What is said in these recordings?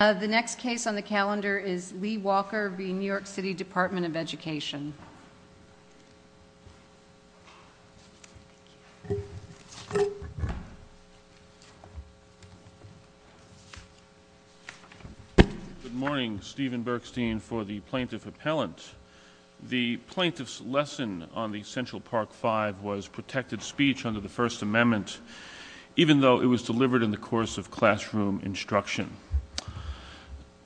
The next case on the calendar is Lee-Walker v. New York City Department of Education. Good morning, Stephen Berkstein for the plaintiff appellant. The plaintiff's lesson on the Central Park Five was protected speech under the First Amendment, even though it was delivered in the course of classroom instruction.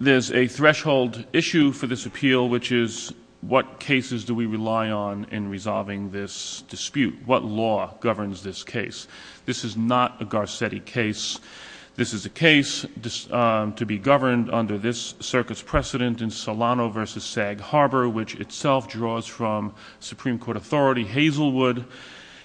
There's a threshold issue for this appeal, which is what cases do we rely on in resolving this dispute? What law governs this case? This is not a Garcetti case. This is a case to be governed under this circuit's precedent in Solano v. Sag Harbor, which itself draws from Supreme Court authority. Hazelwood,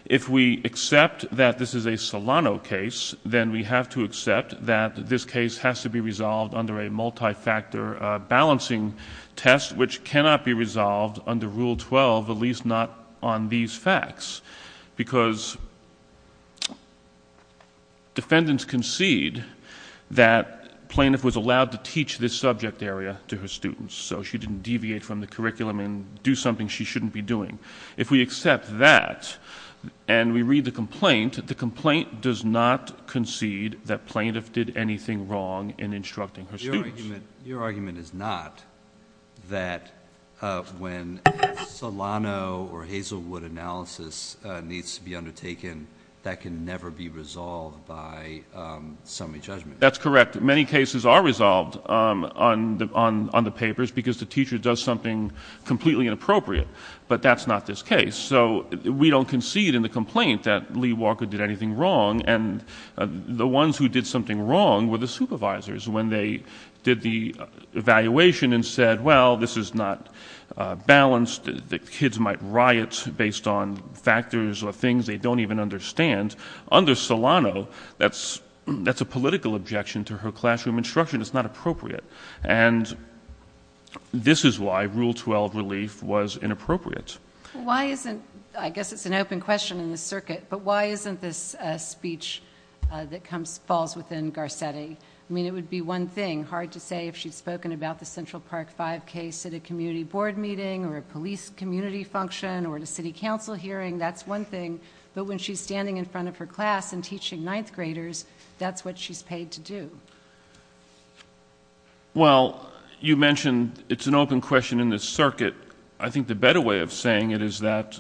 if we accept that this is a Solano case, then we have to accept that this case has to be resolved under a multi-factor balancing test, which cannot be resolved under Rule 12, at least not on these facts, because defendants concede that plaintiff was allowed to teach this subject area to her students, so she didn't deviate from the curriculum and do something she shouldn't be doing. If we accept that and we read the complaint, the complaint does not concede that plaintiff did anything wrong in instructing her students. Your argument is not that when Solano or Hazelwood analysis needs to be undertaken, that can never be resolved by summary judgment. That's correct. Many cases are resolved on the papers because the teacher does something completely inappropriate, but that's not this case, so we don't concede in the complaint that Lee Walker did anything wrong, and the ones who did something wrong were the supervisors when they did the evaluation and said, well, this is not balanced. The kids might riot based on factors or things they don't even understand. Under Solano, that's a political objection to her belief was inappropriate. I guess it's an open question in the circuit, but why isn't this a speech that falls within Garcetti? I mean, it would be one thing, hard to say, if she'd spoken about the Central Park 5 case at a community board meeting or a police community function or the city council hearing. That's one thing, but when she's standing in front of her class and teaching ninth graders, that's what she's paid to do. Well, you mentioned it's an open question in the circuit. I think the better way of saying it is that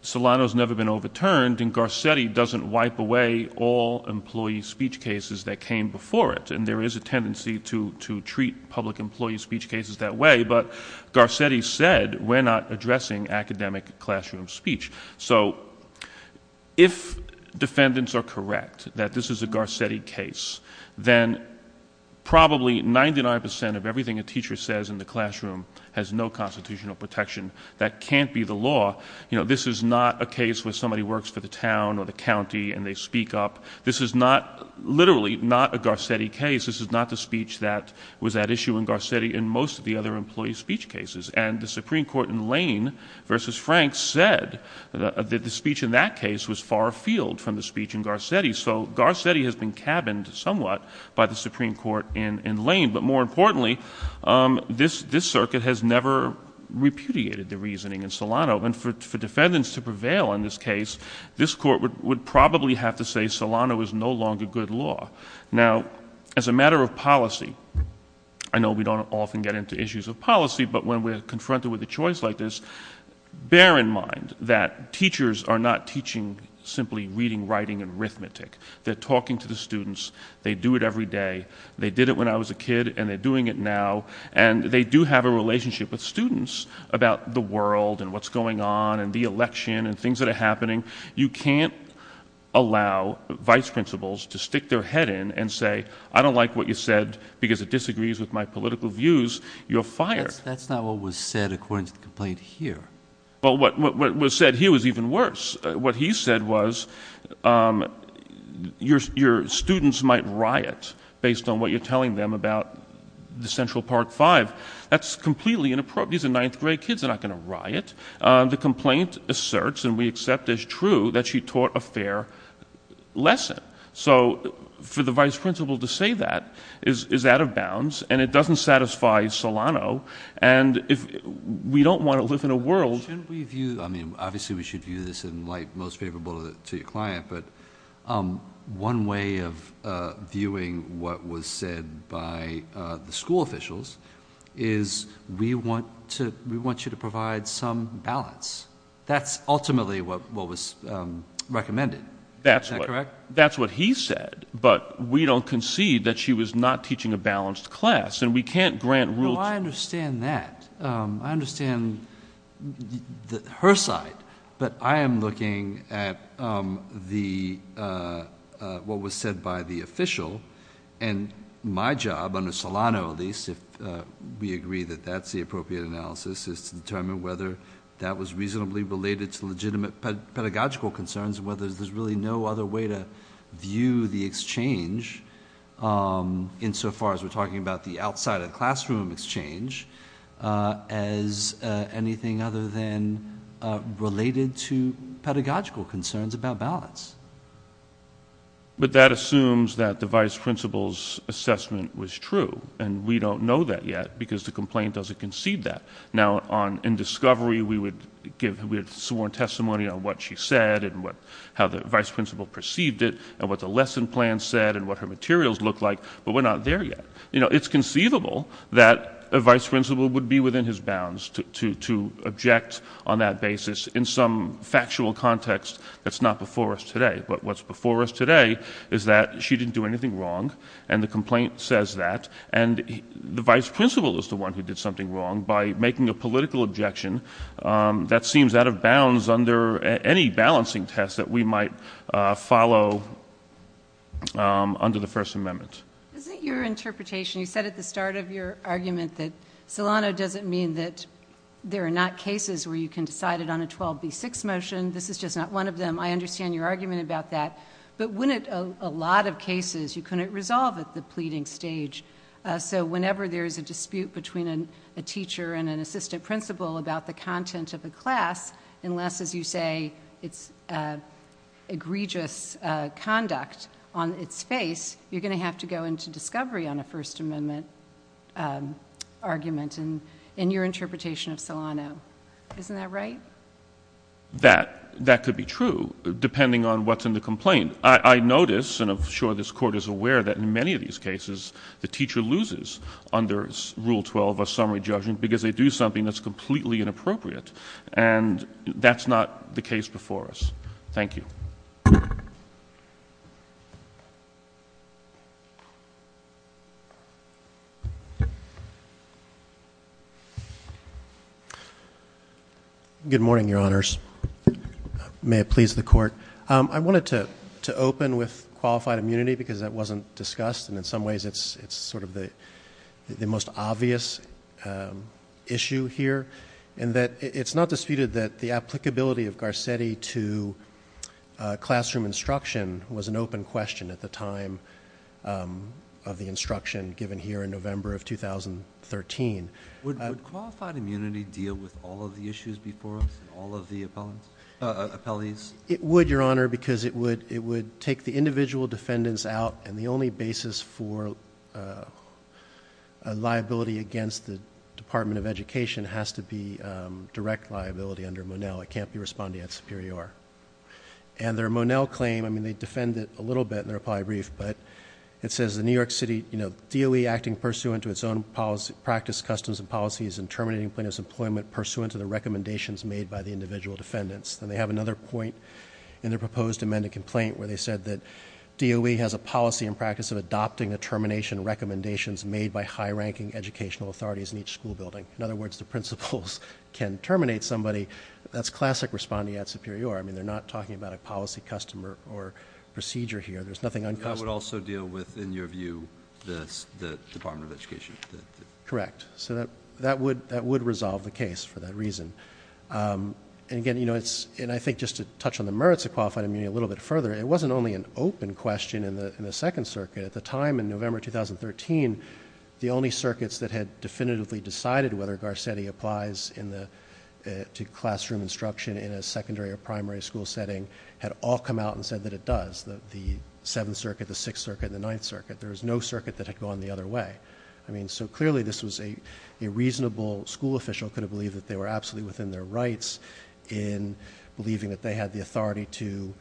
Solano's never been overturned, and Garcetti doesn't wipe away all employee speech cases that came before it, and there is a tendency to treat public employee speech cases that way, but Garcetti said we're not addressing academic classroom speech. So if defendants are correct that this is a Garcetti case, then probably 99% of everything a teacher says in the classroom has no constitutional protection. That can't be the law. You know, this is not a case where somebody works for the town or the county and they speak up. This is not, literally, not a Garcetti case. This is not the speech that was at issue in Garcetti in most of the other employee speech cases, and the Supreme Court in Lane v. Franks said that the speech in that case was far afield from the speech in Garcetti. So Garcetti has been cabined somewhat by the Supreme Court in Lane, but more importantly, this circuit has never repudiated the reasoning in Solano, and for defendants to prevail in this case, this Court would probably have to say Solano is no longer good law. Now, as a matter of policy, I know we don't often get into issues of policy, but when we're confronted with a choice like this, bear in mind that teachers are not teaching simply reading, writing, and arithmetic. They're talking to the students. They do it every day. They did it when I was a kid, and they're doing it now, and they do have a relationship with students about the world and what's going on and the election and things that are happening. You can't allow vice principals to stick their head in and say, I don't like what you said because it disagrees with my political views. You're fired. That's not what was said according to the complaint here. Well, what was said here was even worse. What he said was your students might riot based on what you're telling them about the Central Park Five. That's completely inappropriate. These are ninth grade kids. They're not going to riot. The complaint asserts, and we accept as true, that she taught a fair lesson. So for the vice principal to say that is out of bounds, and it doesn't satisfy Solano, and we don't want to live in a world- Shouldn't we view, obviously we should view this in light most favorable to your client, but one way of viewing what was said by the school officials is we want you to provide some balance. That's ultimately what was recommended. Is that correct? That's what he said, but we don't concede that she was not teaching a balanced class, and we can't grant- Well, I understand that. I understand her side, but I am looking at what was said by the official, and my job under Solano, at least, if we agree that that's the appropriate analysis, is to determine whether that was reasonably related to legitimate pedagogical concerns, and whether there's really no other way to view the exchange, insofar as we're talking about the outside of the classroom exchange, as anything other than related to pedagogical concerns about balance. But that assumes that the vice principal's assessment was true, and we don't know that because the complaint doesn't concede that. Now, in discovery, we would give sworn testimony on what she said, and how the vice principal perceived it, and what the lesson plan said, and what her materials looked like, but we're not there yet. It's conceivable that a vice principal would be within his bounds to object on that basis in some factual context that's not before us today, but what's before us today is that she didn't do anything wrong, and the complaint says that, and the vice principal is the one who did something wrong by making a political objection that seems out of bounds under any balancing test that we might follow under the First Amendment. Is it your interpretation, you said at the start of your argument that Solano doesn't mean that there are not cases where you can decide it on a 12B6 motion, this is just not one of them, I understand your argument about that, but wouldn't a lot of cases you couldn't resolve at the pleading stage, so whenever there's a dispute between a teacher and an assistant principal about the content of a class, unless, as you say, it's egregious conduct on its face, you're going to have to go into discovery on a First Amendment argument in your interpretation of Solano. Isn't that right? That could be true, depending on what's in the complaint. I notice, and I'm sure this Court is aware, that in many of these cases, the teacher loses under Rule 12, a summary judgment, because they do something that's completely inappropriate, and that's not the case before us. Thank you. Good morning, Your Honors. May it please the Court. I wanted to open with qualified immunity because that wasn't discussed, and in some ways it's sort of the most obvious issue here, in that it's not disputed that the applicability of Garcetti to classroom instruction was an open question at the time of the instruction given here in November of 2013. Would qualified immunity deal with all of the issues before us, and all of the appellees? It would, Your Honor, because it would take the individual defendants out, and the only basis for liability against the Department of Education has to be direct liability under Monell. It can't be responding at Superior. And their Monell claim, I mean, they defend it a little bit, and they're probably brief, but it says, in New York City, you know, DOE acting pursuant to its own practice, customs, and policies in terminating plaintiff's employment pursuant to the recommendations made by the individual defendants. Then they have another point in their proposed amended complaint where they said that DOE has a policy and practice of adopting the termination recommendations made by high-ranking educational authorities in each school building. In other words, the principals can terminate somebody. That's classic responding at Superior. I mean, they're not talking about a policy, custom, or procedure here. There's nothing uncustomary. That would also deal with, in your view, the Department of Education? Correct. So that would resolve the case for that reason. And again, you know, it's, and I think just to touch on the merits of qualified immunity a little bit further, it wasn't only an open question in the Second Circuit. At the time, November 2013, the only circuits that had definitively decided whether Garcetti applies to classroom instruction in a secondary or primary school setting had all come out and said that it does, the Seventh Circuit, the Sixth Circuit, the Ninth Circuit. There was no circuit that had gone the other way. I mean, so clearly this was a reasonable school official could have believed that they were absolutely within their rights in believing that they had the authority to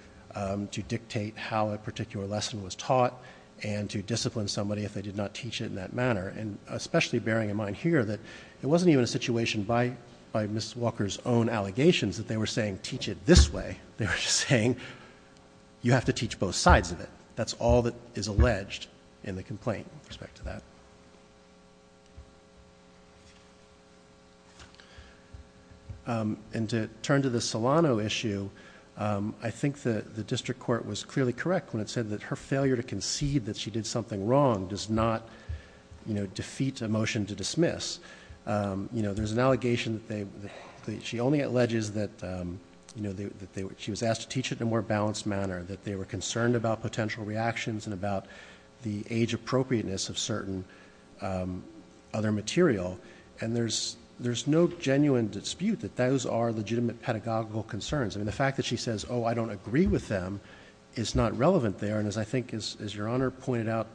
discipline somebody if they did not teach it in that manner. And especially bearing in mind here that it wasn't even a situation by Ms. Walker's own allegations that they were saying teach it this way. They were just saying you have to teach both sides of it. That's all that is alleged in the complaint with respect to that. And to turn to the Solano issue, I think the fact that she says, oh, I don't agree with them, is not relevant there. And as I think, as Your Honor pointed out,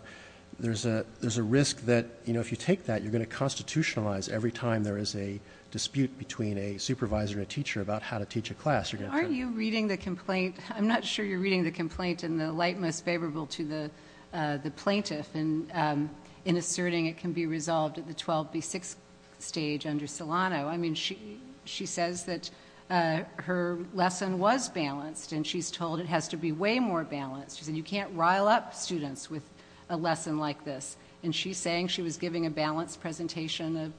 there's a risk that if you take that, you're going to constitutionalize every time there is a dispute between a supervisor and a teacher about how to teach a class. Are you reading the complaint? I'm not sure you're reading the complaint in the light most favorable to the plaintiff in asserting it can be resolved at the 12B6 stage under Solano. I mean, she says that her lesson was balanced, and she's told it has to be way more balanced. She said you can't students with a lesson like this. And she's saying she was giving a balanced presentation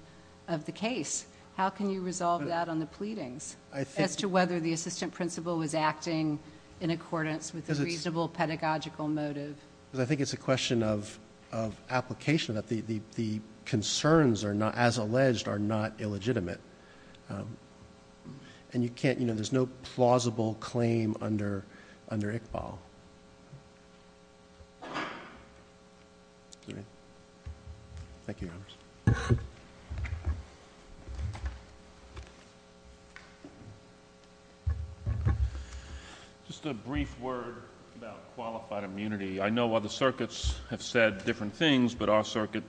of the case. How can you resolve that on the pleadings as to whether the assistant principal was acting in accordance with a reasonable pedagogical motive? Because I think it's a question of application that the concerns are not, as alleged, are not resolved. Thank you, Your Honors. Just a brief word about qualified immunity. I know other circuits have said different things, but our circuit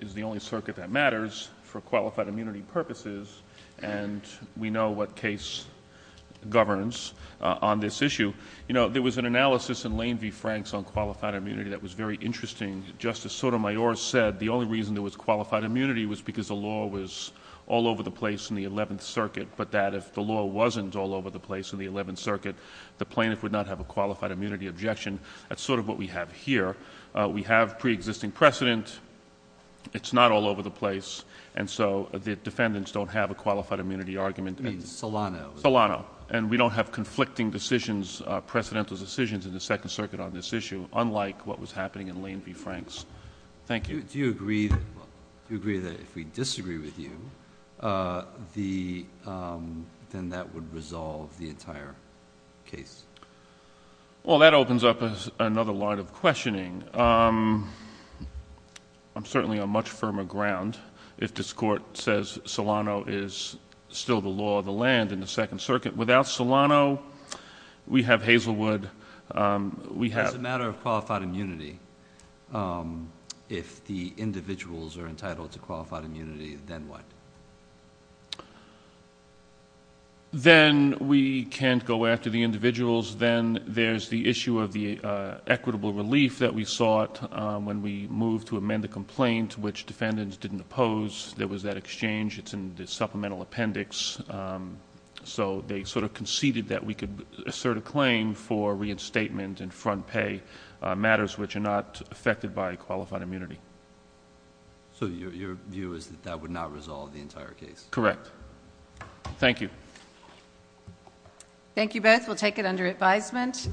is the only circuit that matters for qualified immunity purposes, and we know what case governs on this issue. You know, there was an analysis in Lane v. Franks on qualified immunity that was very interesting. Justice Sotomayor said the only reason there was qualified immunity was because the law was all over the place in the Eleventh Circuit, but that if the law wasn't all over the place in the Eleventh Circuit, the plaintiff would not have a qualified immunity objection. That's sort of what we have here. We have preexisting precedent. It's not all over the place, and so the defendants don't have a qualified immunity argument. I mean, Solano. Solano. And we don't have conflicting decisions, precedental decisions in the Second Circuit on this issue, unlike what was happening in Lane v. Franks. Thank you. Do you agree that if we disagree with you, then that would resolve the entire case? Well, that opens up another line of questioning. I'm certainly on much firmer ground if this Court says Solano is still the law of the land in the Second Circuit. Without Solano, we have Hazelwood. It's a matter of qualified immunity. If the individuals are entitled to qualified immunity, then what? Then we can't go after the individuals. Then there's the issue of the equitable relief that we sought when we moved to amend the complaint, which defendants didn't oppose. There was that appendix. So they sort of conceded that we could assert a claim for reinstatement and front pay matters which are not affected by qualified immunity. So your view is that that would not resolve the entire case? Correct. Thank you. Thank you both. We'll take it under advisement.